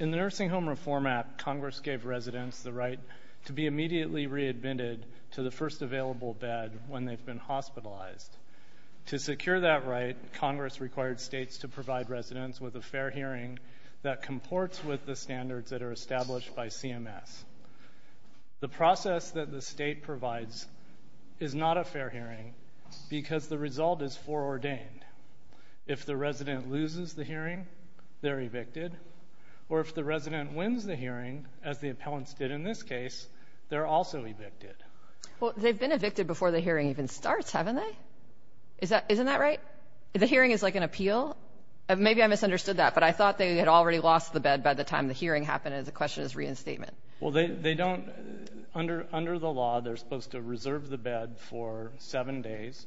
In the Nursing Home Reform Act, Congress gave residents the right to be immediately readmitted to the first available bed when they've been hospitalized. To secure that right, Congress required states to provide residents with a fair hearing that comports with the standards that are established by CMS. The process that the state provides is not a fair hearing because the result is foreordained. If the resident loses the hearing, they're evicted. Or if the resident wins the hearing, as the appellants did in this case, they're also evicted. Kagan Well, they've been evicted before the hearing even starts, haven't they? Isn't that right? The hearing is like an appeal? Maybe I misunderstood that, but I thought they had already lost the bed by the time the hearing happened. Michael Wilkening Well, they don't. Under the law, they're supposed to reserve the bed for seven days,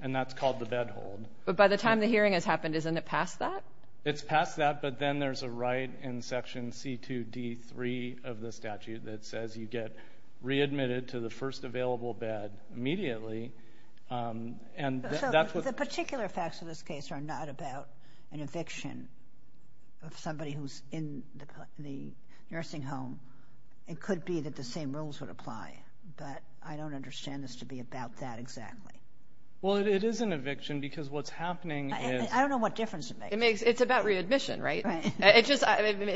and that's called the bed hold. Kagan But by the time the hearing has happened, isn't it past that? Michael Wilkening It's past that, but then there's a right in Section C2d3 of the statute that says you get readmitted to the first available bed immediately. And that's what the ---- Kagan So, if you're talking about an eviction of somebody who's in the nursing home, it could be that the same rules would apply. But I don't understand this to be about that exactly. Michael Wilkening Well, it is an eviction because what's happening is ---- Kagan I don't know what difference it makes. It's about readmission, right? It just,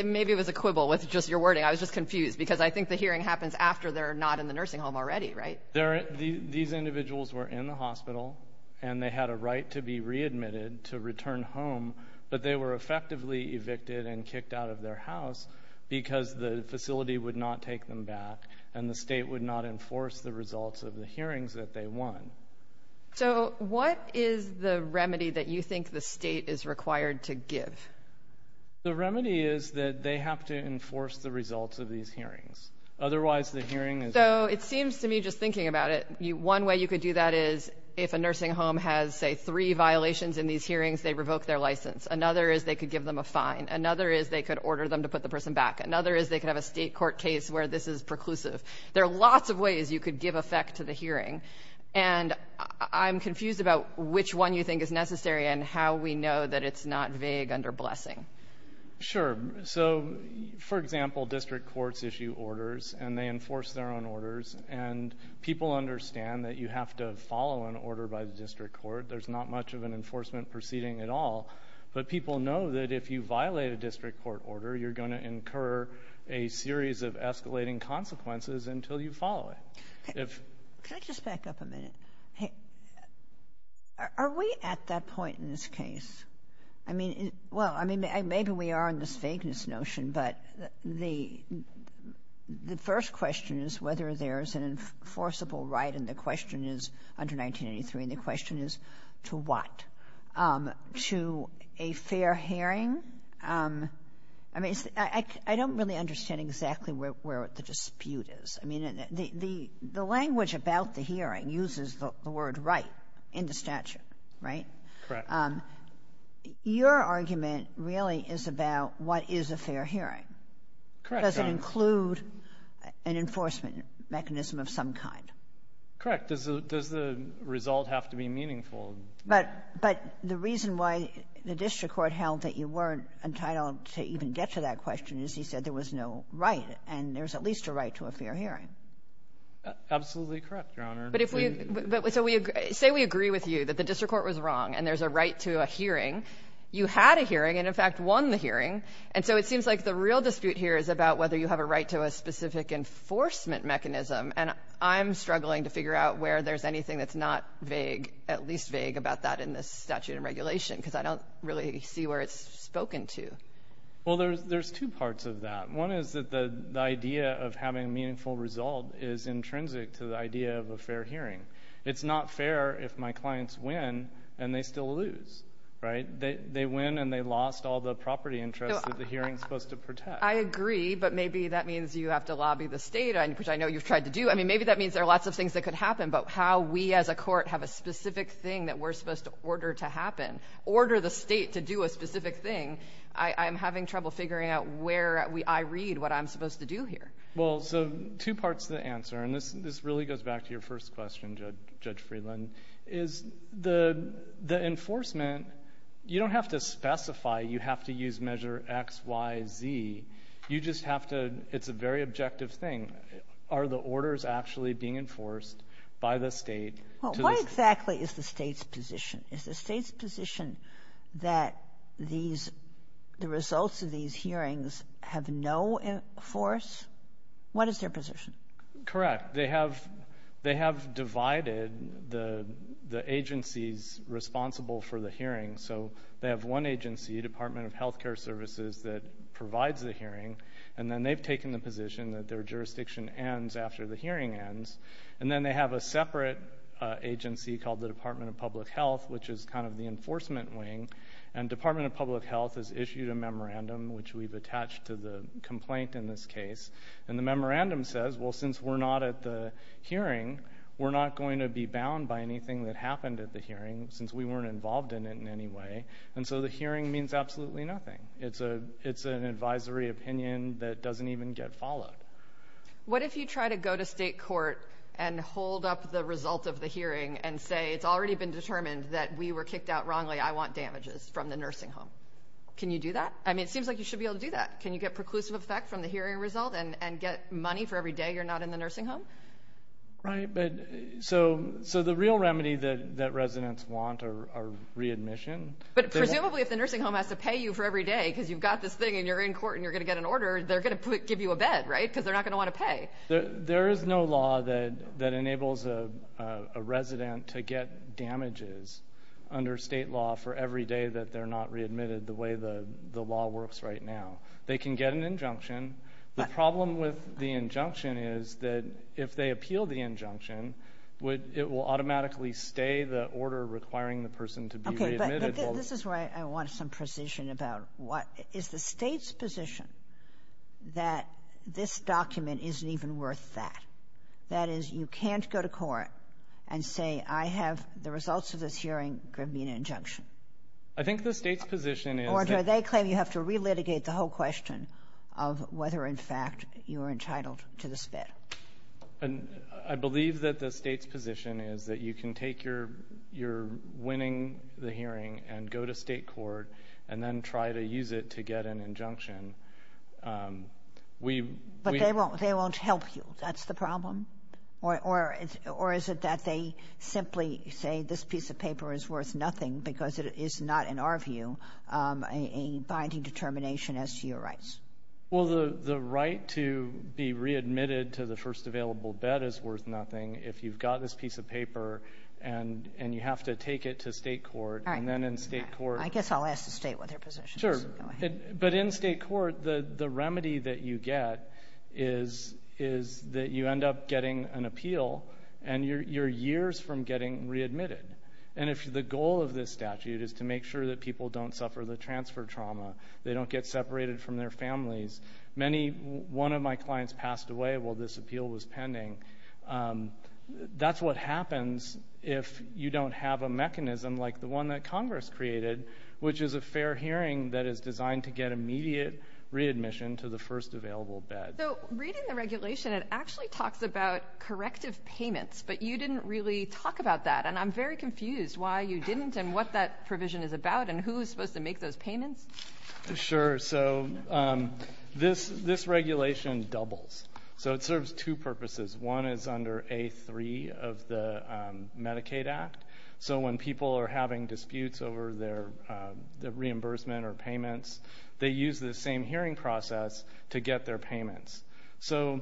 maybe it was a quibble with just your wording. I was just confused because I think the hearing happens after they're not in the nursing home already, right? Michael Wilkening These individuals were in the hospital, and they had a right to be readmitted, to return home. But they were effectively evicted and kicked out of their house because the facility would not take them back, and the state would not enforce the results of the hearings that they won. Kagan So, what is the remedy that you think the state is required to give? Michael Wilkening The remedy is that they have to enforce the results of these hearings. Otherwise the hearing is ---- Kagan So, it seems to me, just thinking about it, one way you could do that is if a nursing home has, say, three violations in these hearings, they revoke their license. Another is they could give them a fine. Another is they could order them to put the person back. Another is they could have a state court case where this is preclusive. There are lots of ways you could give effect to the hearing, and I'm confused about which one you think is necessary and how we know that it's not vague under blessing. Michael Wilkening Sure. So, for example, district courts issue orders, and they enforce their own orders, and people understand that you have to follow an order by the district court. There's not much of an enforcement proceeding at all, but people know that if you violate a district court order, you're going to incur a series of escalating consequences until you follow it. If ---- Kagan Can I just back up a minute? Are we at that point in this case? I mean, well, I mean, maybe we are in this vagueness notion, but the first question is whether there's an enforceable right, and the question is, under 1983, and the question is to what? To a fair hearing? I mean, I don't really understand exactly where the dispute is. I mean, the language about the hearing uses the word right in the statute, right? Your argument really is about what is a fair hearing. Does it include an enforcement mechanism of some kind? Correct. Does the result have to be meaningful? But the reason why the district court held that you weren't entitled to even get to that question is he said there was no right, and there's at least a right to a fair hearing. Absolutely correct, Your Honor. But if we ---- But so we ---- say we agree with you that the district court was wrong and there's a right to a hearing. You had a hearing and, in fact, won the hearing. And so it seems like the real dispute here is about whether you have a right to a specific enforcement mechanism, and I'm struggling to figure out where there's anything that's not vague, at least vague, about that in this statute and regulation, because I don't really see where it's spoken to. Well, there's two parts of that. One is that the idea of having a meaningful result is intrinsic to the idea of a fair hearing. It's not fair if my clients win and they still lose, right? They win and they lost all the property interests that the hearing is supposed to protect. I agree, but maybe that means you have to lobby the State, which I know you've tried to do. I mean, maybe that means there are lots of things that could happen, but how we as a court have a specific thing that we're supposed to order to happen, order the State to do a specific thing, I'm having trouble figuring out where I read what I'm supposed to do here. Well, so two parts to the answer, and this really goes back to your first question, Judge Friedland, is the enforcement, you don't have to specify. You have to use measure X, Y, Z. You just have to — it's a very objective thing. Are the orders actually being enforced by the State to the — Well, what exactly is the State's position? Is the State's position that these — the results of these hearings have no force? What is their position? Correct. They have divided the agencies responsible for the hearings. So they have one agency, Department of Health Care Services, that provides the hearing, and then they've taken the position that their jurisdiction ends after the hearing ends. And then they have a separate agency called the Department of Public Health, which is kind of the enforcement wing, and Department of Public Health has issued a memorandum, which we've attached to the complaint in this case. And the memorandum says, well, since we're not at the hearing, we're not going to be bound by anything that happened at the hearing, since we weren't involved in it in any way. And so the hearing means absolutely nothing. It's an advisory opinion that doesn't even get followed. What if you try to go to state court and hold up the result of the hearing and say, it's already been determined that we were kicked out wrongly, I want damages from the nursing home? Can you do that? I mean, it seems like you should be able to do that. Can you get preclusive effect from the hearing result and get money for every day you're not in the nursing home? Right. But so the real remedy that residents want are readmission. But presumably if the nursing home has to pay you for every day because you've got this thing and you're in court and you're going to get an order, they're going to give you a bed, right? Because they're not going to want to pay. There is no law that enables a resident to get damages under state law for every day that they're not readmitted the way the law works right now. They can get an injunction. The problem with the injunction is that if they appeal the injunction, would it will automatically stay the order requiring the person to be readmitted while they're in court. Okay. But this is where I want some precision about what is the State's position that this document isn't even worth that. That is, you can't go to court and say, I have the results of this hearing. Give me an injunction. I think the State's position is that you have to re-litigate the whole court, and that's a question of whether, in fact, you're entitled to this bed. And I believe that the State's position is that you can take your winning the hearing and go to state court and then try to use it to get an injunction. We But they won't help you. That's the problem. Or is it that they simply say this piece of paper is worth nothing because it is not, in our view, a binding determination as to your rights? Well, the right to be readmitted to the first available bed is worth nothing if you've got this piece of paper and you have to take it to state court. All right. And then in state court I guess I'll ask the State what their position is. Sure. But in state court, the remedy that you get is that you end up getting an appeal and you're years from getting readmitted. And if the goal of this statute is to make sure that people don't suffer the transfer trauma, they don't get separated from their families, many, one of my clients passed away while this appeal was pending, that's what happens if you don't have a mechanism like the one that Congress created, which is a fair hearing that is designed to get immediate readmission to the first available bed. So reading the regulation, it actually talks about corrective payments, but you didn't really talk about that. And I'm very confused why you didn't and what that provision is about and who is supposed to make those payments. Sure. So this regulation doubles. So it serves two purposes. One is under A3 of the Medicaid Act. So when people are having disputes over their reimbursement or payments, they use the same hearing process to get their payments. So,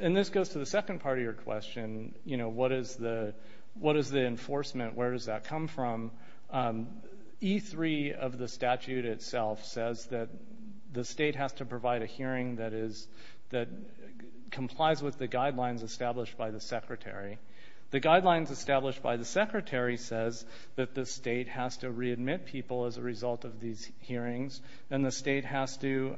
and this goes to the second part of your question, you know, what is the enforcement, where does that come from? E3 of the statute itself says that the State has to provide a hearing that is that complies with the guidelines established by the Secretary. The guidelines established by the Secretary says that the State has to readmit people as a result of these hearings and the State has to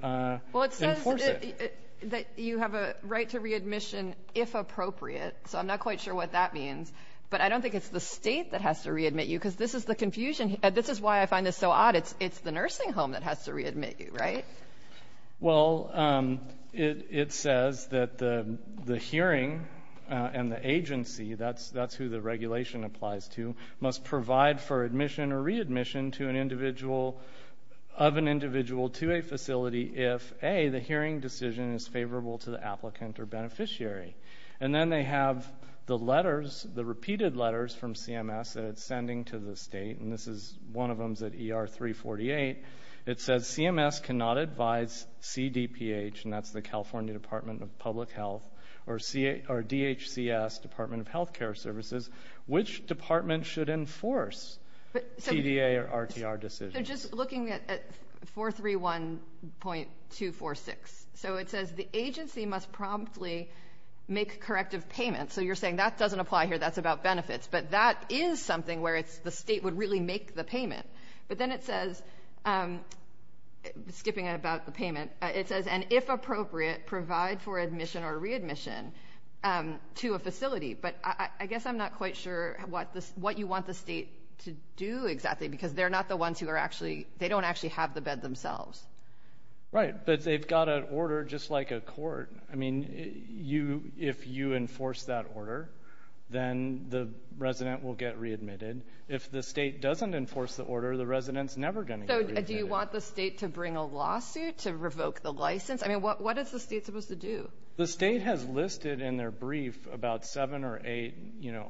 enforce it. That you have a right to readmission if appropriate. So I'm not quite sure what that means, but I don't think it's the State that has to readmit you because this is the confusion. This is why I find this so odd. It's the nursing home that has to readmit you, right? Well, it says that the hearing and the agency, that's who the regulation applies to, must provide for admission or readmission to an individual, of an hearing decision is favorable to the applicant or beneficiary. And then they have the letters, the repeated letters from CMS that it's sending to the State, and this is, one of them's at ER 348. It says CMS cannot advise CDPH, and that's the California Department of Public Health, or DHCS, Department of Healthcare Services, which department should enforce CDA or RTR decisions? They're just looking at 431.246. So it says the agency must promptly make corrective payments. So you're saying that doesn't apply here, that's about benefits. But that is something where it's the State would really make the payment. But then it says, skipping about the payment, it says, and if appropriate, provide for admission or readmission to a facility. But I guess I'm not quite sure what you want the State to do exactly because they're not the ones who are actually, they don't actually have the bed themselves. Right, but they've got an order just like a court. I mean, if you enforce that order, then the resident will get readmitted. If the State doesn't enforce the order, the resident's never going to get readmitted. So do you want the State to bring a lawsuit to revoke the license? I mean, what is the State supposed to do? The State has listed in their brief about seven or eight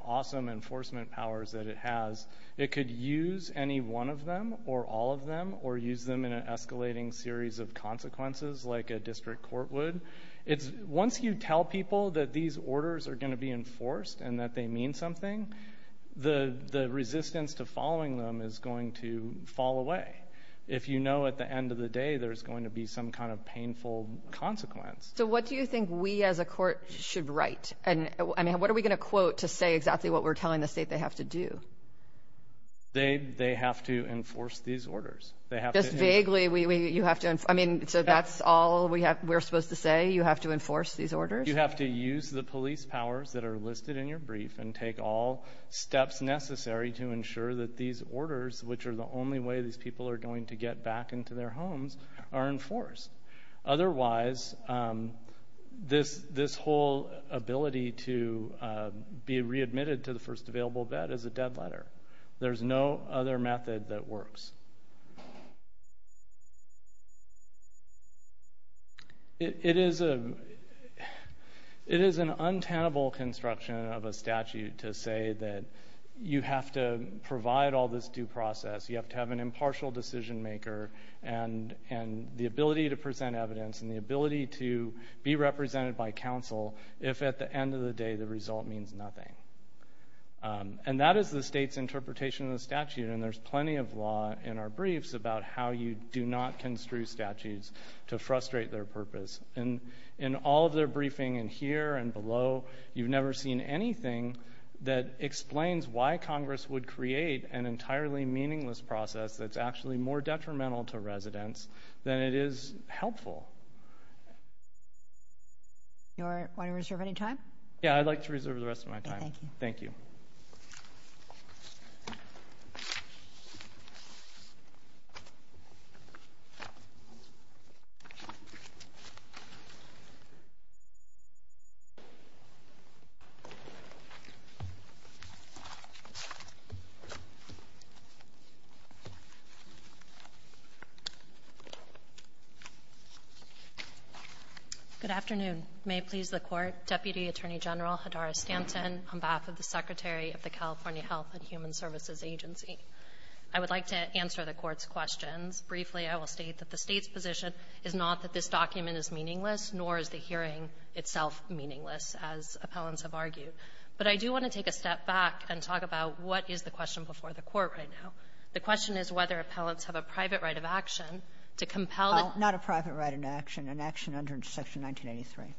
awesome enforcement powers that it has. It could use any one of them or all of them or use them in an escalating series of consequences like a district court would. It's once you tell people that these orders are going to be enforced and that they mean something, the resistance to following them is going to fall away. If you know at the end of the day, there's going to be some kind of painful consequence. So what do you think we as a court should write? And I mean, what are we going to quote to say exactly what we're telling the State they have to do? They have to enforce these orders. They have to- Just vaguely, you have to, I mean, so that's all we're supposed to say, you have to enforce these orders? You have to use the police powers that are listed in your brief and take all steps necessary to ensure that these orders, which are the only way these people are going to get back into their homes, are enforced. Otherwise, this whole ability to be readmitted to the first available vet is a dead letter. There's no other method that works. It is an untenable construction of a statute to say that you have to provide all this due process. You have to have an impartial decision maker, and the ability to present evidence, and the ability to be represented by counsel, if at the end of the day, the result means nothing. And that is the State's interpretation of the statute, and there's plenty of law in our briefs about how you do not construe statutes to frustrate their purpose. And in all of their briefing in here and below, you've never seen anything that explains why Congress would create an entirely meaningless process that's actually more detrimental to residents than it is helpful. You want to reserve any time? Yeah, I'd like to reserve the rest of my time. Okay, thank you. Thank you. Good afternoon. May it please the Court. Deputy Attorney General Hadara-Stanton, on behalf of the Secretary of the California Health and Human Services Agency. I would like to answer the Court's questions. Briefly, I will state that the State's position is not that this document is meaningless, nor is the hearing itself meaningless, as appellants have argued. But I do want to take a step back and talk about what is the question before the Court right now. The question is whether appellants have a private right of action to compel the ---- Well, not a private right of action, an action under Section 1983.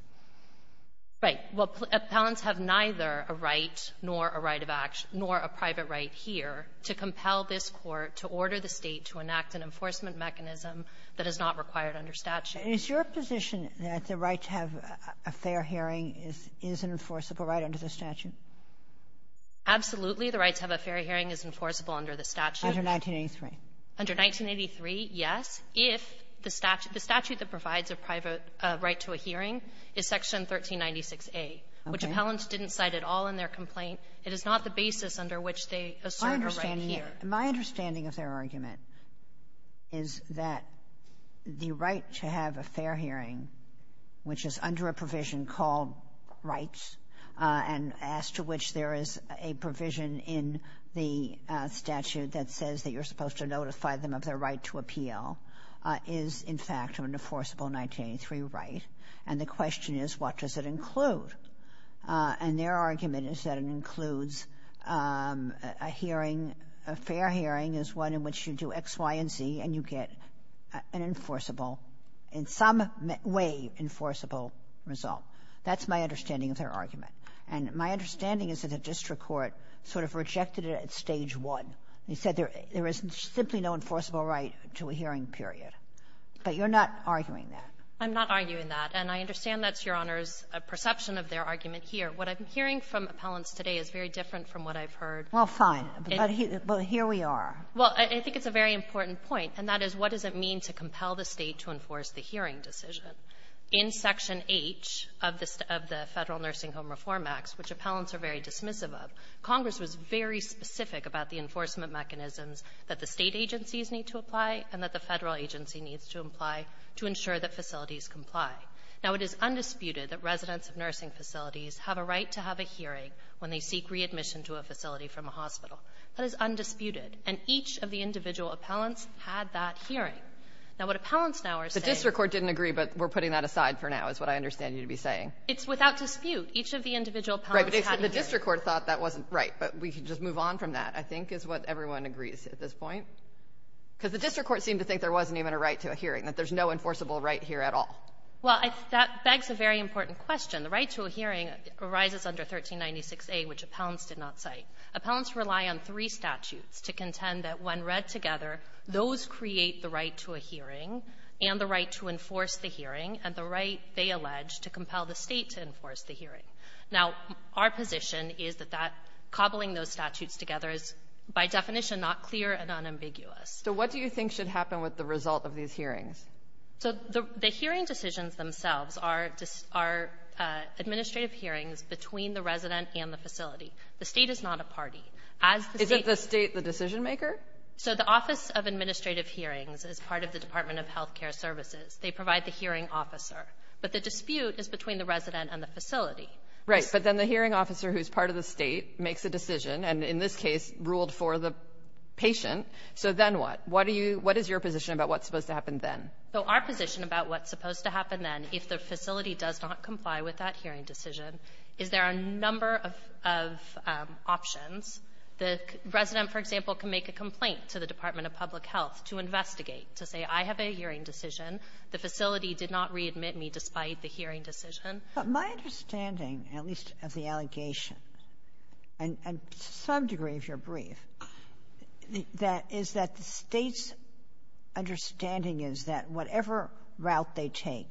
Right. Well, appellants have neither a right, nor a right of action, nor a private right here to compel this Court to order the State to enact an enforcement mechanism that is not required under statute. Is your position that the right to have a fair hearing is an enforceable right under the statute? Absolutely. The right to have a fair hearing is enforceable under the statute. Under 1983. Under 1983, yes. If the statute that provides a private right to a hearing is Section 1396a. Okay. Which appellants didn't cite at all in their complaint. It is not the basis under which they assert a right here. My understanding of their argument is that the right to have a fair hearing, which is under a provision called rights, and as to which there is a provision in the statute that says that you're supposed to notify them of their right to appeal, is, in fact, an enforceable 1983 right. And the question is, what does it include? And their argument is that it includes a hearing, a fair hearing is one in which you do X, Y, and Z, and you get an enforceable, in some way enforceable, result. That's my understanding of their argument. And my understanding is that the district court sort of rejected it at Stage 1. They said there is simply no enforceable right to a hearing period. But you're not arguing that. I'm not arguing that. And I understand that's Your Honor's perception of their argument here. What I'm hearing from appellants today is very different from what I've heard. Well, fine. But here we are. Well, I think it's a very important point, and that is, what does it mean to compel the State to enforce the hearing decision? In Section H of the Federal Nursing Home Reform Acts, which appellants are very dismissive of, Congress was very specific about the enforcement mechanisms that the State agencies need to apply and that the Federal agency needs to apply to ensure that facilities comply. Now, it is undisputed that residents of nursing facilities have a right to have a hearing when they seek readmission to a facility from a hospital. That is undisputed. And each of the individual appellants had that hearing. Now, what appellants now are saying — The district court didn't agree, but we're putting that aside for now, is what I understand you to be saying. It's without dispute. Each of the individual appellants had a hearing. Right. But the district court thought that wasn't right. But we could just move on from that. I think is what everyone agrees at this point. Because the district court seemed to think there wasn't even a right to a hearing, that there's no enforceable right here at all. Well, that begs a very important question. The right to a hearing arises under 1396a, which appellants did not cite. Appellants rely on three statutes to contend that when read together, those create the right to a hearing and the right to enforce the hearing and the right, they allege, to compel the State to enforce the hearing. Now, our position is that that cobbling those statutes together is, by definition, not clear and unambiguous. So what do you think should happen with the result of these hearings? So the hearing decisions themselves are administrative hearings between the resident and the facility. The State is not a party. As the State — Isn't the State the decision-maker? So the Office of Administrative Hearings is part of the Department of Health Care Services. They provide the hearing officer. But the dispute is between the resident and the facility. Right. But then the hearing officer who's part of the State makes a decision, and in this case, ruled for the patient. So then what? What do you — what is your position about what's supposed to happen then? So our position about what's supposed to happen then, if the facility does not comply with that hearing decision, is there are a number of options. The resident, for example, can make a complaint to the Department of Public Health to investigate, to say, I have a hearing decision. The facility did not readmit me despite the hearing decision. But my understanding, at least of the allegation, and to some degree of your brief, that is that the State's understanding is that whatever route they take,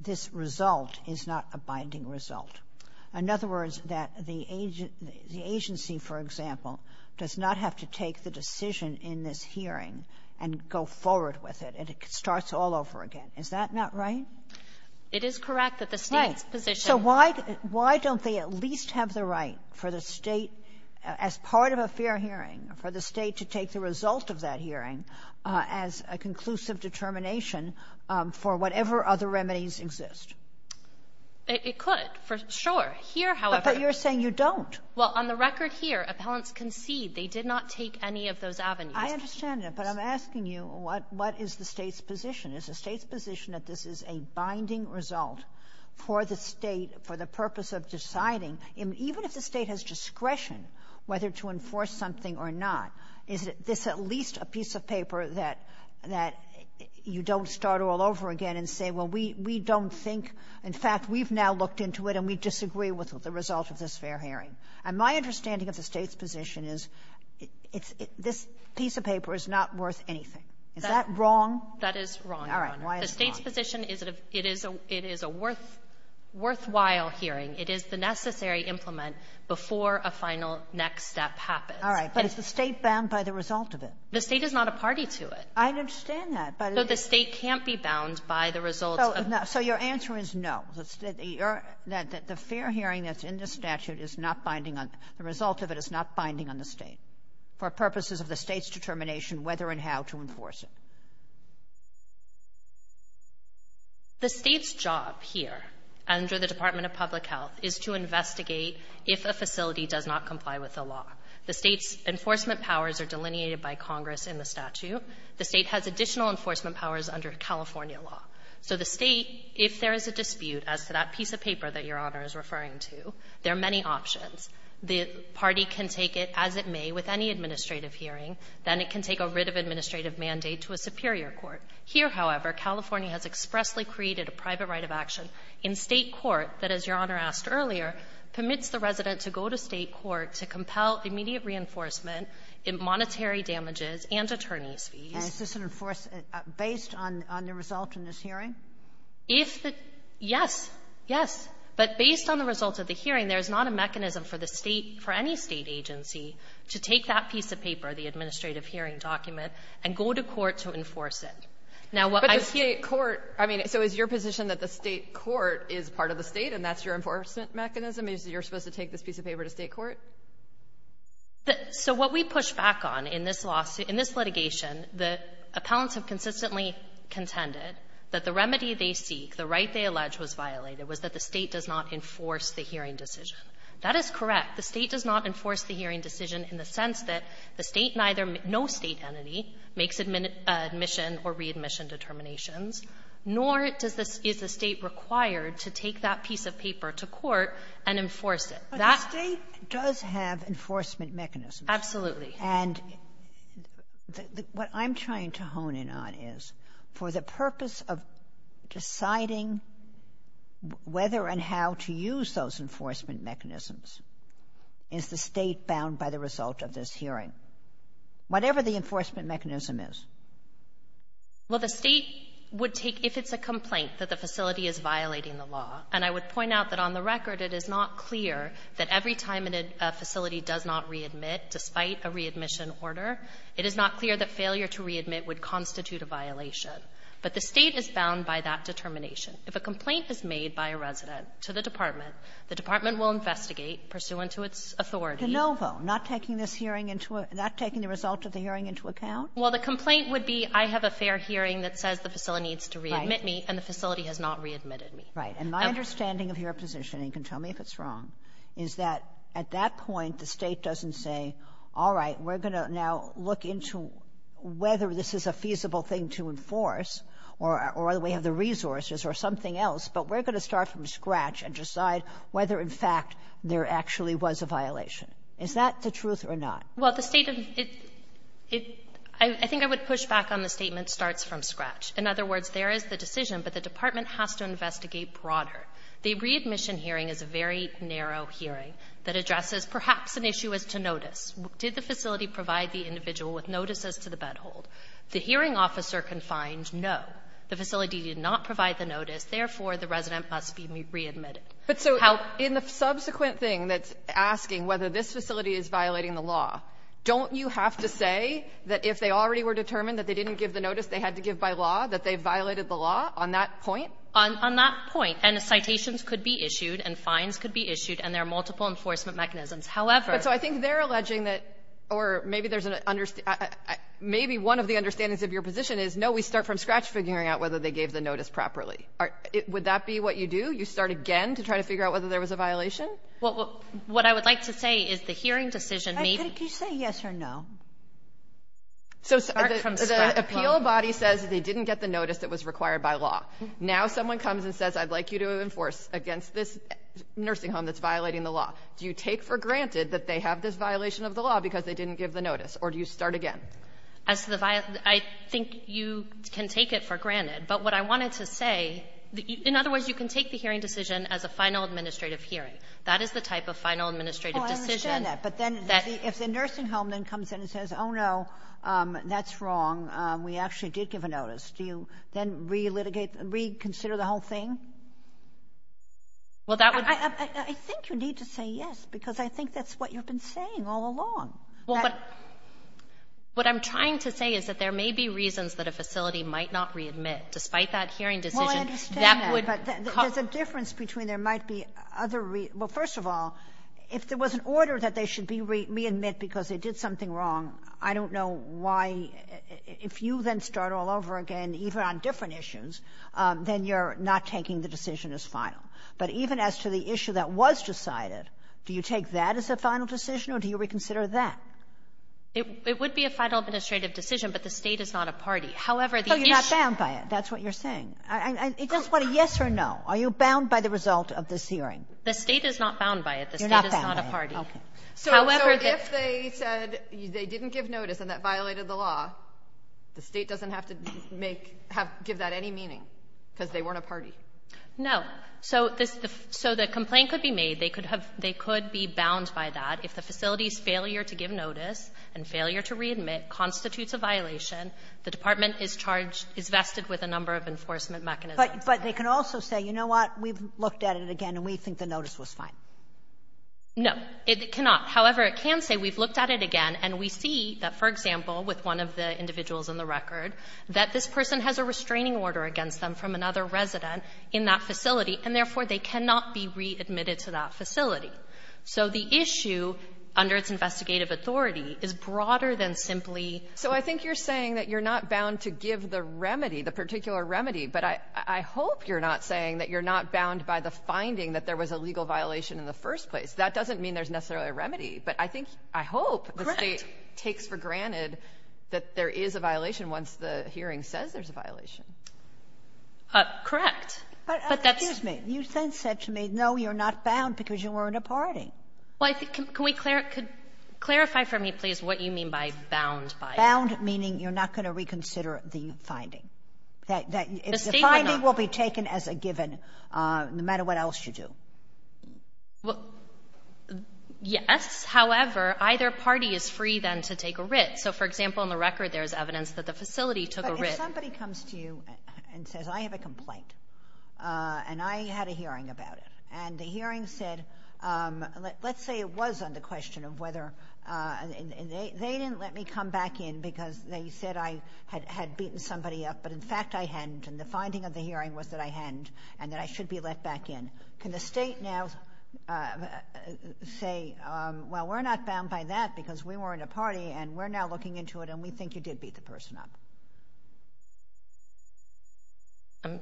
this result is not a binding result. In other words, that the agency, for example, does not have to take the decision in this hearing and go forward with it. And it starts all over again. Is that not right? It is correct that the State's position — Right. So why don't they at least have the right for the State, as part of a fair hearing, for the State to take the result of that hearing as a conclusive determination for whatever other remedies exist? It could, for sure. Here, however — But you're saying you don't. Well, on the record here, appellants concede they did not take any of those avenues. I understand that. But I'm asking you, what is the State's position? Is the State's position that this is a binding result for the State, for the purpose of deciding, even if the State has discretion, whether to enforce something or not? Is this at least a piece of paper that you don't start all over again and say, well, we don't think — in fact, we've now looked into it, and we disagree with the result of this fair hearing? And my understanding of the State's position is it's — this piece of paper is not worth anything. Is that wrong? That is wrong, Your Honor. All right. Why is it wrong? The State's position is that it is a worthwhile hearing. It is the necessary implement before a final next step happens. All right. But it's the State bound by the result of it. The State is not a party to it. I understand that. But it's — So the State can't be bound by the result of — So your answer is no. That the fair hearing that's in the statute is not binding on — the result of it is not binding on the State, for purposes of the State's determination whether and how to enforce it. The State's job here under the Department of Public Health is to investigate if a facility does not comply with the law. The State's enforcement powers are delineated by Congress in the statute. The State has additional enforcement powers under California law. So the State, if there is a dispute as to that piece of paper that Your Honor is referring to, there are many options. The party can take it as it may with any administrative hearing. Then it can take a writ of administrative mandate to a superior court. Here, however, California has expressly created a private right of action in State court that, as Your Honor asked earlier, permits the resident to go to State court to compel immediate reinforcement in monetary damages and attorneys' fees. And is this enforced based on the result in this hearing? If the — yes. Yes. But based on the result of the hearing, there is not a mechanism for the State, for any State agency, to take that piece of paper, the administrative hearing document, and go to court to enforce it. Now, what I hear — But the State court — I mean, so is your position that the State court is part of the State, and that's your enforcement mechanism, is that you're supposed to take this piece of paper to State court? So what we push back on in this lawsuit, in this litigation, the appellants have consistently contended that the remedy they seek, the right they allege was violated, was that the State does not enforce the hearing decision. That is correct. The State does not enforce the hearing decision in the sense that the State neither — no State entity makes admission or readmission determinations, nor does the — is the State required to take that piece of paper to court and enforce it. But the State does have enforcement mechanisms. Absolutely. And what I'm trying to hone in on is, for the purpose of deciding whether and how to use those enforcement mechanisms, is the State bound by the result of this hearing, whatever the enforcement mechanism is? Well, the State would take, if it's a complaint that the facility is violating the law, and I would point out that on the record, it is not clear that every time a facility does not readmit, despite a readmission order, it is not clear that failure to readmit would constitute a violation. But the State is bound by that determination. If a complaint is made by a resident to the department, the department will investigate, pursuant to its authority. De Novo, not taking this hearing into a — not taking the result of the hearing into account? Well, the complaint would be, I have a fair hearing that says the facility needs to readmit me, and the facility has not readmitted me. Right. And my understanding of your position, and you can tell me if it's wrong, is that at that point, the State doesn't say, all right, we're going to now look into whether this is a feasible thing to enforce, or whether we have the resources or something else, but we're going to start from scratch and decide whether, in fact, there actually was a violation. Is that the truth or not? Well, the State of — I think I would push back on the statement, starts from scratch. In other words, there is the decision, but the department has to investigate broader. The readmission hearing is a very narrow hearing that addresses perhaps an issue as to notice. Did the facility provide the individual with notices to the bedhold? The hearing officer confines, no. The facility did not provide the notice. Therefore, the resident must be readmitted. But so in the subsequent thing that's asking whether this facility is violating the law, don't you have to say that if they already were determined that they didn't give the notice, they had to give by law, that they violated the law on that point? On that point. And the citations could be issued and fines could be issued, and there are multiple enforcement mechanisms. However — But so I think they're alleging that, or maybe there's an — maybe one of the understandings of your position is, no, we start from scratch figuring out whether they gave the notice properly. Would that be what you do? You start again to try to figure out whether there was a violation? Well, what I would like to say is the hearing decision may be — Could you say yes or no? So the appeal body says they didn't get the notice that was required by law. Now someone comes and says, I'd like you to enforce against this nursing home that's violating the law. Do you take for granted that they have this violation of the law because they didn't give the notice, or do you start again? As the — I think you can take it for granted. But what I wanted to say — in other words, you can take the hearing decision as a final administrative hearing. That is the type of final administrative decision that — That's wrong. We actually did give a notice. Do you then re-litigate — reconsider the whole thing? Well, that would — I think you need to say yes, because I think that's what you've been saying all along. Well, but — what I'm trying to say is that there may be reasons that a facility might not readmit. Despite that hearing decision, that would — Well, I understand that, but there's a difference between there might be other — well, first of all, if there was an order that they should be readmit because they did something wrong, I don't know why — if you then start all over again, even on different issues, then you're not taking the decision as final. But even as to the issue that was decided, do you take that as a final decision, or do you reconsider that? It would be a final administrative decision, but the State is not a party. However, the issue — Oh, you're not bound by it. That's what you're saying. I — I just want a yes or no. Are you bound by the result of this hearing? The State is not bound by it. The State is not a party. You're not bound by it. Okay. So if they said they didn't give notice and that violated the law, the State doesn't have to make — give that any meaning, because they weren't a party. No. So this — so the complaint could be made. They could have — they could be bound by that. If the facility's failure to give notice and failure to readmit constitutes a violation, the department is charged — is vested with a number of enforcement mechanisms. But they can also say, you know what, we've looked at it again, and we think the notice was fine. No, it cannot. However, it can say, we've looked at it again, and we see that, for example, with one of the individuals in the record, that this person has a restraining order against them from another resident in that facility, and therefore, they cannot be readmitted to that facility. So the issue under its investigative authority is broader than simply — So I think you're saying that you're not bound to give the remedy, the particular remedy, but I — I hope you're not saying that you're not bound by the finding that there was a legal violation in the first place. That doesn't mean there's necessarily a remedy. But I think — I hope the State takes for granted that there is a violation once the hearing says there's a violation. Correct. But that's — But excuse me. You then said to me, no, you're not bound because you weren't a party. Well, I think — can we — could clarify for me, please, what you mean by bound by — Bound meaning you're not going to reconsider the finding. The State will not. The finding will be taken as a given, no matter what else you do. Well, yes. However, either party is free, then, to take a writ. So, for example, in the record, there's evidence that the facility took a writ. But if somebody comes to you and says, I have a complaint, and I had a hearing about it, and the hearing said — let's say it was on the question of whether — they didn't let me come back in because they said I had beaten somebody up. But in fact, I hadn't. And the finding of the hearing was that I hadn't and that I should be let back in. Can the State now say, well, we're not bound by that because we weren't a party, and we're now looking into it, and we think you did beat the person up? I'm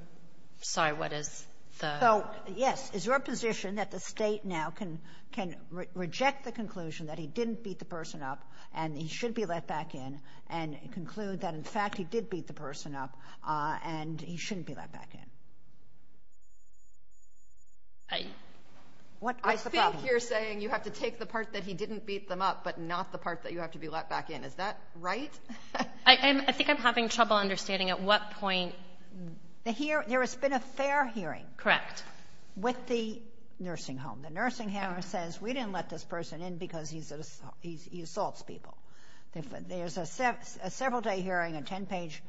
sorry. What is the — So, yes. Is your position that the State now can — can reject the conclusion that he didn't beat the person up, and he should be let back in, and conclude that, in fact, he did beat the person up, and he shouldn't be let back in? I — What is the problem? I think you're saying you have to take the part that he didn't beat them up, but not the part that you have to be let back in. Is that right? I think I'm having trouble understanding at what point — There has been a fair hearing — Correct. — with the nursing home. The nursing home says, we didn't let this person in because he assaults people. There's a several-day hearing, a 10-page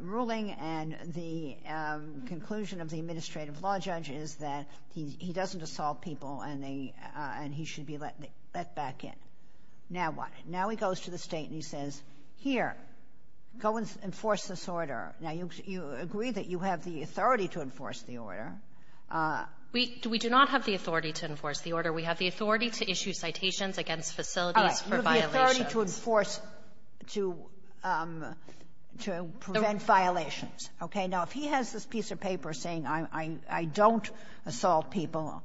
ruling, and the conclusion of the administrative law judge is that he doesn't assault people, and they — and he should be let back in. Now what? Now he goes to the State, and he says, here, go enforce this order. Now, you agree that you have the authority to enforce the order. We do not have the authority to enforce the order. We have the authority to issue citations against facilities for violations. All right. You have the authority to enforce — to — to prevent violations. Okay? Now, if he has this piece of paper saying, I — I don't assault people,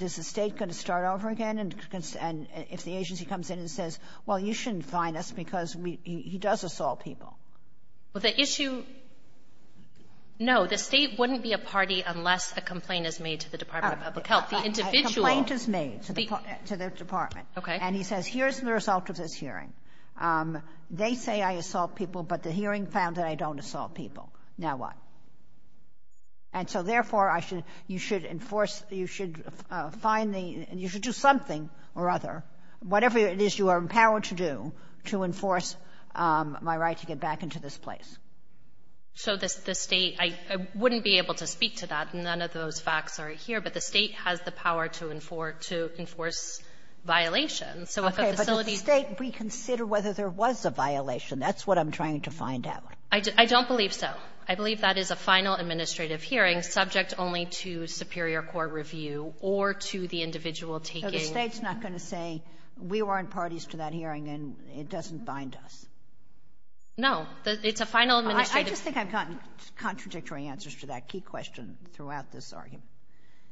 is the State going to start over again? And if the agency comes in and says, well, you shouldn't fine us because we — he does assault people? Well, the issue — no, the State wouldn't be a party unless a complaint is made to the Department of Public Health. The individual — A complaint is made to the — to the department. Okay. And he says, here's the result of this hearing. They say I assault people, but the hearing found that I don't assault people. Now what? And so, therefore, I should — you should enforce — you should fine the — you should do something or other, whatever it is you are empowered to do, to enforce my right to get back into this place. So the — the State — I wouldn't be able to speak to that, and none of those facts are here. But the State has the power to enforce — to enforce violations. So if a facility — Okay. But does the State reconsider whether there was a violation? That's what I'm trying to find out. I don't believe so. I believe that is a final administrative hearing subject only to superior court review or to the individual taking — So the State's not going to say, we weren't parties to that hearing, and it doesn't bind us? No. It's a final administrative — I just think I've gotten contradictory answers to that key question throughout this argument.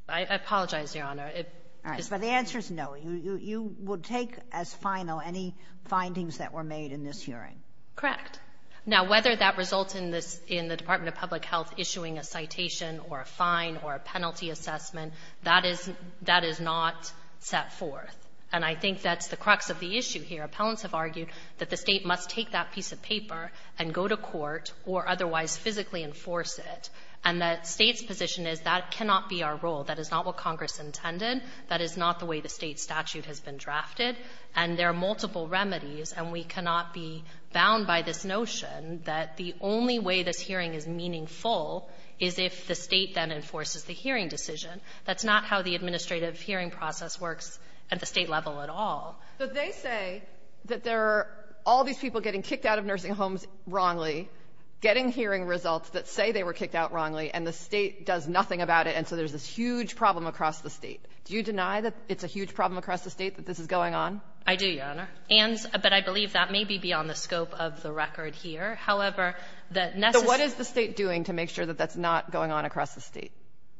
I apologize, Your Honor. It — All right. But the answer is no. You — you would take as final any findings that were made in this hearing? Correct. Now, whether that results in this — in the Department of Public Health issuing a citation or a fine or a penalty assessment, that is — that is not set forth. And I think that's the crux of the issue here. Appellants have argued that the State must take that piece of paper and go to court or otherwise physically enforce it. And that State's position is that cannot be our role. That is not what Congress intended. That is not the way the State statute has been drafted. And there are multiple remedies, and we cannot be bound by this notion that the only way this hearing is meaningful is if the State then enforces the hearing decision. That's not how the administrative hearing process works at the State level at all. But they say that there are all these people getting kicked out of nursing homes wrongly, getting hearing results that say they were kicked out wrongly, and the State does nothing about it, and so there's this huge problem across the State. Do you deny that it's a huge problem across the State, that this is going on? I do, Your Honor. And — but I believe that may be beyond the scope of the record here. However, the necessary — So what is the State doing to make sure that that's not going on across the State?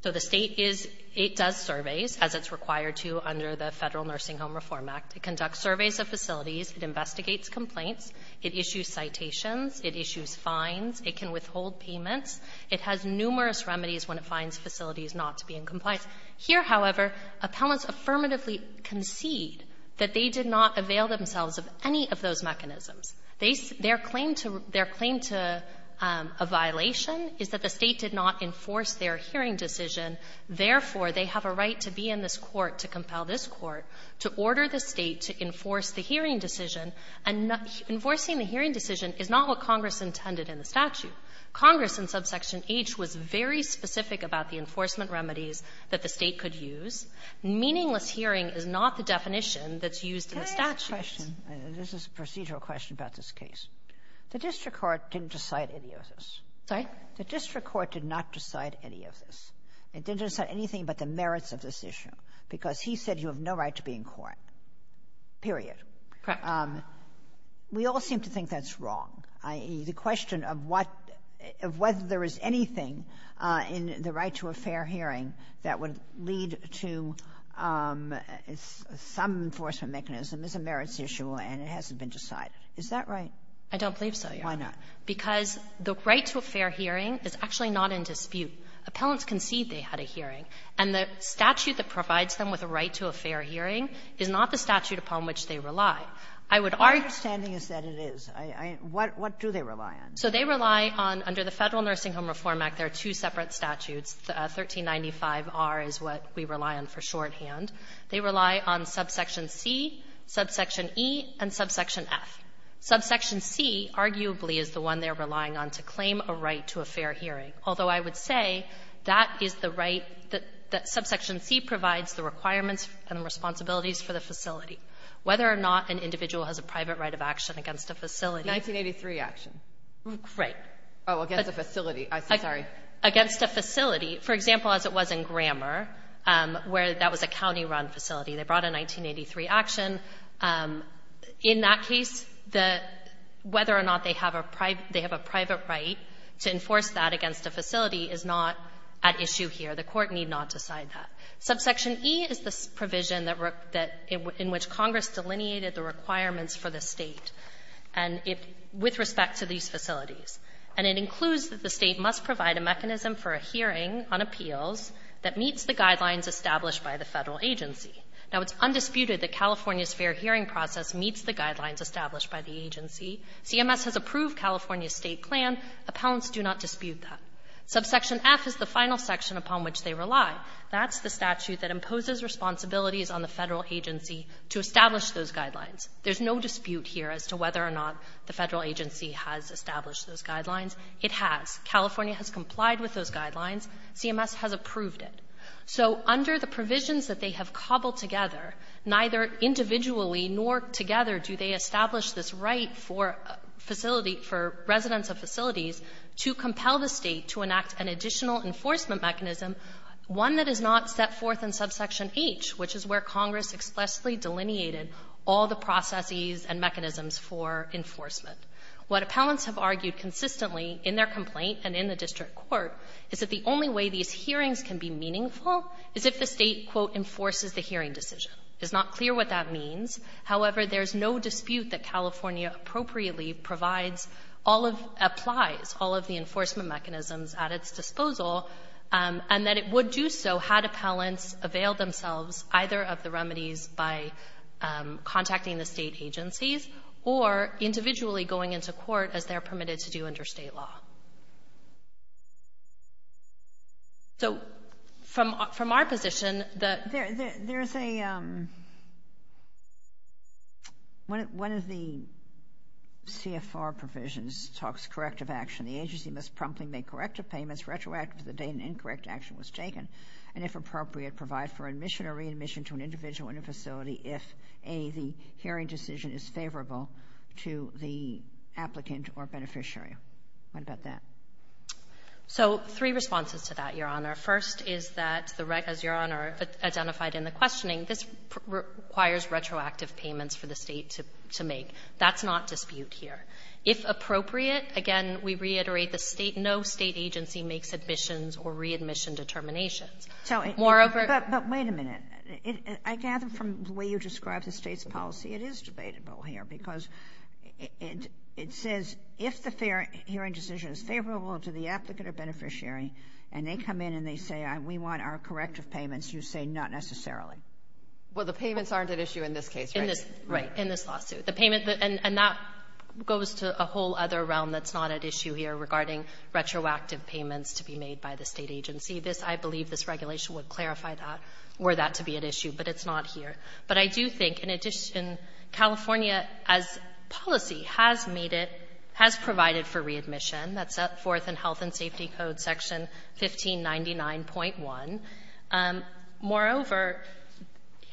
So the State is — it does surveys, as it's required to under the Federal Nursing Home Reform Act. It conducts surveys of facilities. It investigates complaints. It issues citations. It issues fines. It can withhold payments. It has numerous remedies when it finds facilities not to be in compliance. Here, however, appellants affirmatively concede that they did not avail themselves of any of those mechanisms. They — their claim to — their claim to a violation is that the State did not enforce their hearing decision. Therefore, they have a right to be in this Court to compel this Court to order the enforcing the hearing decision is not what Congress intended in the statute. Congress, in Subsection H, was very specific about the enforcement remedies that the State could use. Meaningless hearing is not the definition that's used in the statute. Can I ask a question? This is a procedural question about this case. The district court didn't decide any of this. Sorry? The district court did not decide any of this. It didn't decide anything but the merits of this issue, because he said you have no right to be in court, period. Correct. We all seem to think that's wrong, i.e., the question of what — of whether there is anything in the right to a fair hearing that would lead to some enforcement mechanism is a merits issue and it hasn't been decided. Is that right? I don't believe so, Your Honor. Why not? Because the right to a fair hearing is actually not in dispute. Appellants concede they had a hearing, and the statute that provides them with a right to a fair hearing is not the statute upon which they rely. I would argue — My understanding is that it is. I — what do they rely on? So they rely on, under the Federal Nursing Home Reform Act, there are two separate statutes, 1395R is what we rely on for shorthand. They rely on subsection C, subsection E, and subsection F. Subsection C, arguably, is the one they're relying on to claim a right to a fair hearing, although I would say that is the right that — that subsection C provides the requirements and responsibilities for the facility. Whether or not an individual has a private right of action against a facility 1983 action. Right. Oh, against a facility. I'm sorry. Against a facility. For example, as it was in Grammar, where that was a county-run facility. They brought a 1983 action. In that case, the — whether or not they have a private — they have a private right to enforce that against a facility is not at issue here. The Court need not decide that. Subsection E is the provision that — in which Congress delineated the requirements for the State, and it — with respect to these facilities. And it includes that the State must provide a mechanism for a hearing on appeals that meets the guidelines established by the Federal agency. Now, it's undisputed that California's fair hearing process meets the guidelines established by the agency. CMS has approved California's State plan. Appellants do not dispute that. Subsection F is the final section upon which they rely. That's the statute that imposes responsibilities on the Federal agency to establish those guidelines. There's no dispute here as to whether or not the Federal agency has established those guidelines. It has. California has complied with those guidelines. CMS has approved it. So under the provisions that they have cobbled together, neither individually nor together do they establish this right for facility — for residents of facilities to compel the State to enact an additional enforcement mechanism, one that is not set forth in Subsection H, which is where Congress expressly delineated all the processes and mechanisms for enforcement. What appellants have argued consistently in their complaint and in the district court is that the only way these hearings can be meaningful is if the State, quote, enforces the hearing decision. It's not clear what that means. However, there's no dispute that California appropriately provides all of — applies all of the enforcement mechanisms at its disposal, and that it would do so had appellants availed themselves either of the remedies by contacting the State agencies or individually going into court as they're permitted to do under State law. So from our position, the — One of the CFR provisions talks corrective action. The agency must promptly make corrective payments retroactive to the date an incorrect action was taken, and if appropriate, provide for admission or readmission to an individual in a facility if, A, the hearing decision is favorable to the applicant or beneficiary. What about that? So three responses to that, Your Honor. First is that the — as Your Honor identified in the questioning, this requires retroactive payments for the State to make. That's not dispute here. If appropriate, again, we reiterate the State — no State agency makes admissions or readmission determinations. Moreover — But wait a minute. I gather from the way you describe the State's policy, it is debatable here, because it says if the hearing decision is favorable to the applicant or beneficiary, and they come in and they say, we want our corrective payments, you say not necessarily. Well, the payments aren't at issue in this case, right? In this — right. In this lawsuit. The payment — and that goes to a whole other realm that's not at issue here regarding retroactive payments to be made by the State agency. This — I believe this regulation would clarify that, were that to be at issue, but it's not here. But I do think, in addition, California, as policy, has made it — has provided for readmission. That's set forth in Health and Safety Code Section 1599.1. Moreover,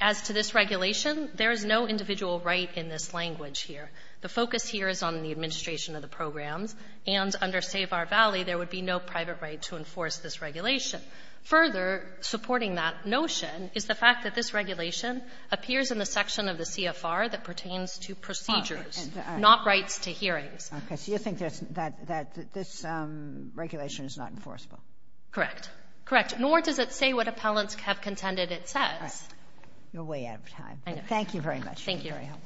as to this regulation, there is no individual right in this language here. The focus here is on the administration of the programs. And under Save Our Valley, there would be no private right to enforce this regulation. Further supporting that notion is the fact that this regulation appears in the section of the CFR that pertains to procedures, not rights to hearings. Okay. So you think that this regulation is not enforceable? Correct. Correct. Nor does it say what appellants have contended it says. You're way out of time. I know. Thank you very much. Thank you. You're very helpful.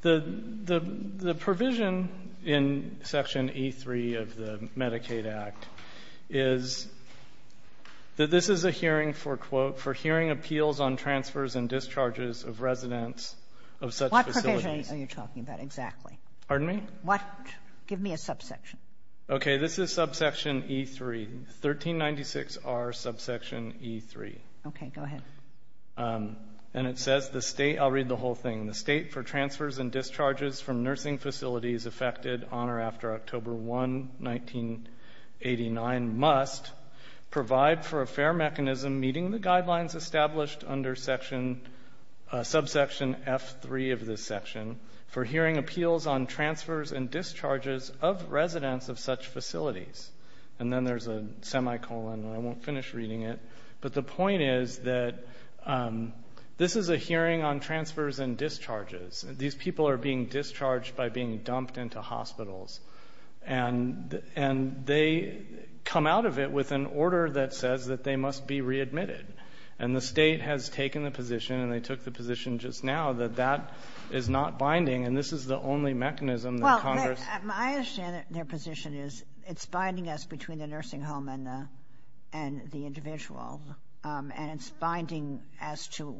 The provision in Section E3 of the Medicaid Act is that this is a hearing for, quote, for hearing appeals on transfers and discharges of residents of such facilities. What provision are you talking about exactly? Pardon me? What — give me a subsection. Okay. This is subsection E3, 1396R, subsection E3. Okay. Go ahead. And it says the State — I'll read the whole thing. The State, for transfers and discharges from nursing facilities affected on or after October 1, 1989, must provide for a fair mechanism meeting the guidelines established under section — subsection F3 of this section for hearing appeals on transfers and discharges of residents of such facilities. And then there's a semicolon, and I won't finish reading it. But the point is that this is a hearing on transfers and discharges. These people are being discharged by being dumped into hospitals. And — and they come out of it with an order that says that they must be readmitted. And the State has taken the position, and they took the position just now, that that is not binding. And this is the only mechanism that Congress — Well, I understand their position is it's binding us between the nursing home and the — and the individual. And it's binding as to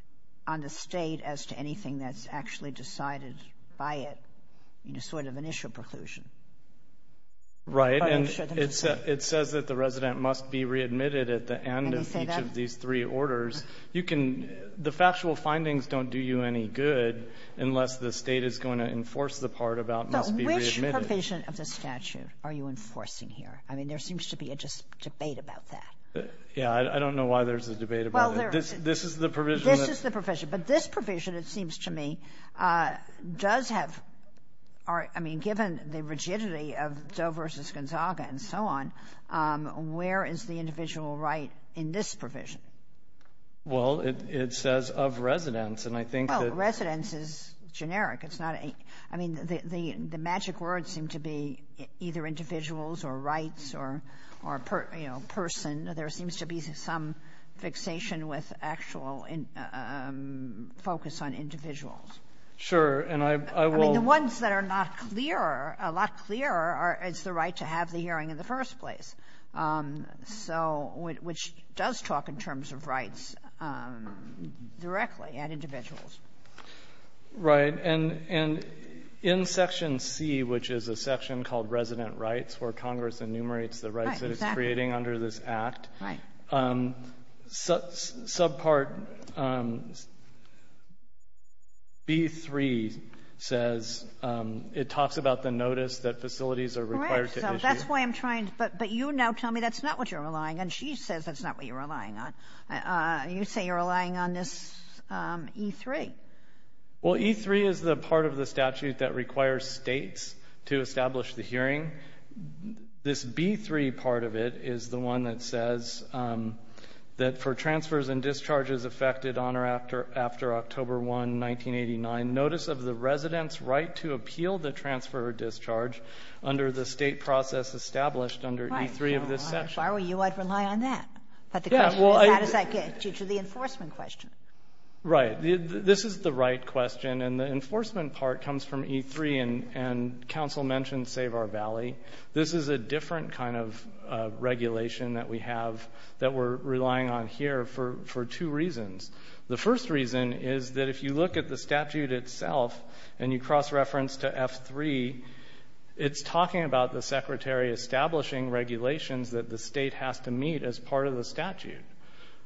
— on the State as to anything that's actually decided by it, you know, sort of initial preclusion. Right. And it says that the resident must be readmitted at the end of each of these three orders. You can — the factual findings don't do you any good unless the State is going to enforce the part about must be readmitted. So which provision of the statute are you enforcing here? I mean, there seems to be a just debate about that. Yeah. I don't know why there's a debate about it. This is the provision that — This is the provision. But this provision, it seems to me, does have — I mean, given the rigidity of Doe v. Gonzaga and so on, where is the individual right in this provision? Well, it says of residents. And I think that — Well, residents is generic. It's not a — I mean, the magic words seem to be either individuals or rights or, you know, person. There seems to be some fixation with actual focus on individuals. Sure. And I will — I mean, the ones that are not clearer, a lot clearer, are it's the right to have the hearing in the first place, so — which does talk in terms of rights directly at individuals. Right. And in Section C, which is a section called Resident Rights, where Congress enumerates the rights that it's creating under this Act, there's a section called Resident Rights Act. Right. Subpart B-3 says it talks about the notice that facilities are required to issue. Right. So that's why I'm trying — but you now tell me that's not what you're relying on. She says that's not what you're relying on. You say you're relying on this E-3. Well, E-3 is the part of the statute that requires States to establish the hearing. This B-3 part of it is the one that says that for transfers and discharges affected on or after October 1, 1989, notice of the resident's right to appeal the transfer or discharge under the State process established under E-3 of this section. Right. Well, if I were you, I'd rely on that. But the question is, how does that get you to the enforcement question? Right. This is the right question, and the enforcement part comes from E-3. And counsel mentioned Save Our Valley. This is a different kind of regulation that we have that we're relying on here for two reasons. The first reason is that if you look at the statute itself and you cross-reference to F-3, it's talking about the Secretary establishing regulations that the State has to meet as part of the statute.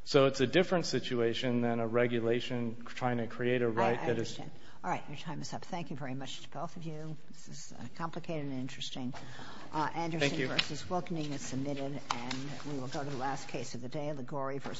So it's a different situation than a regulation trying to create a right that is — I understand. All right. Your time is up. Thank you very much to both of you. This is complicated and interesting. Anderson v. Wilkening is submitted. And we will go to the last case of the day, Liguori v. Hansen.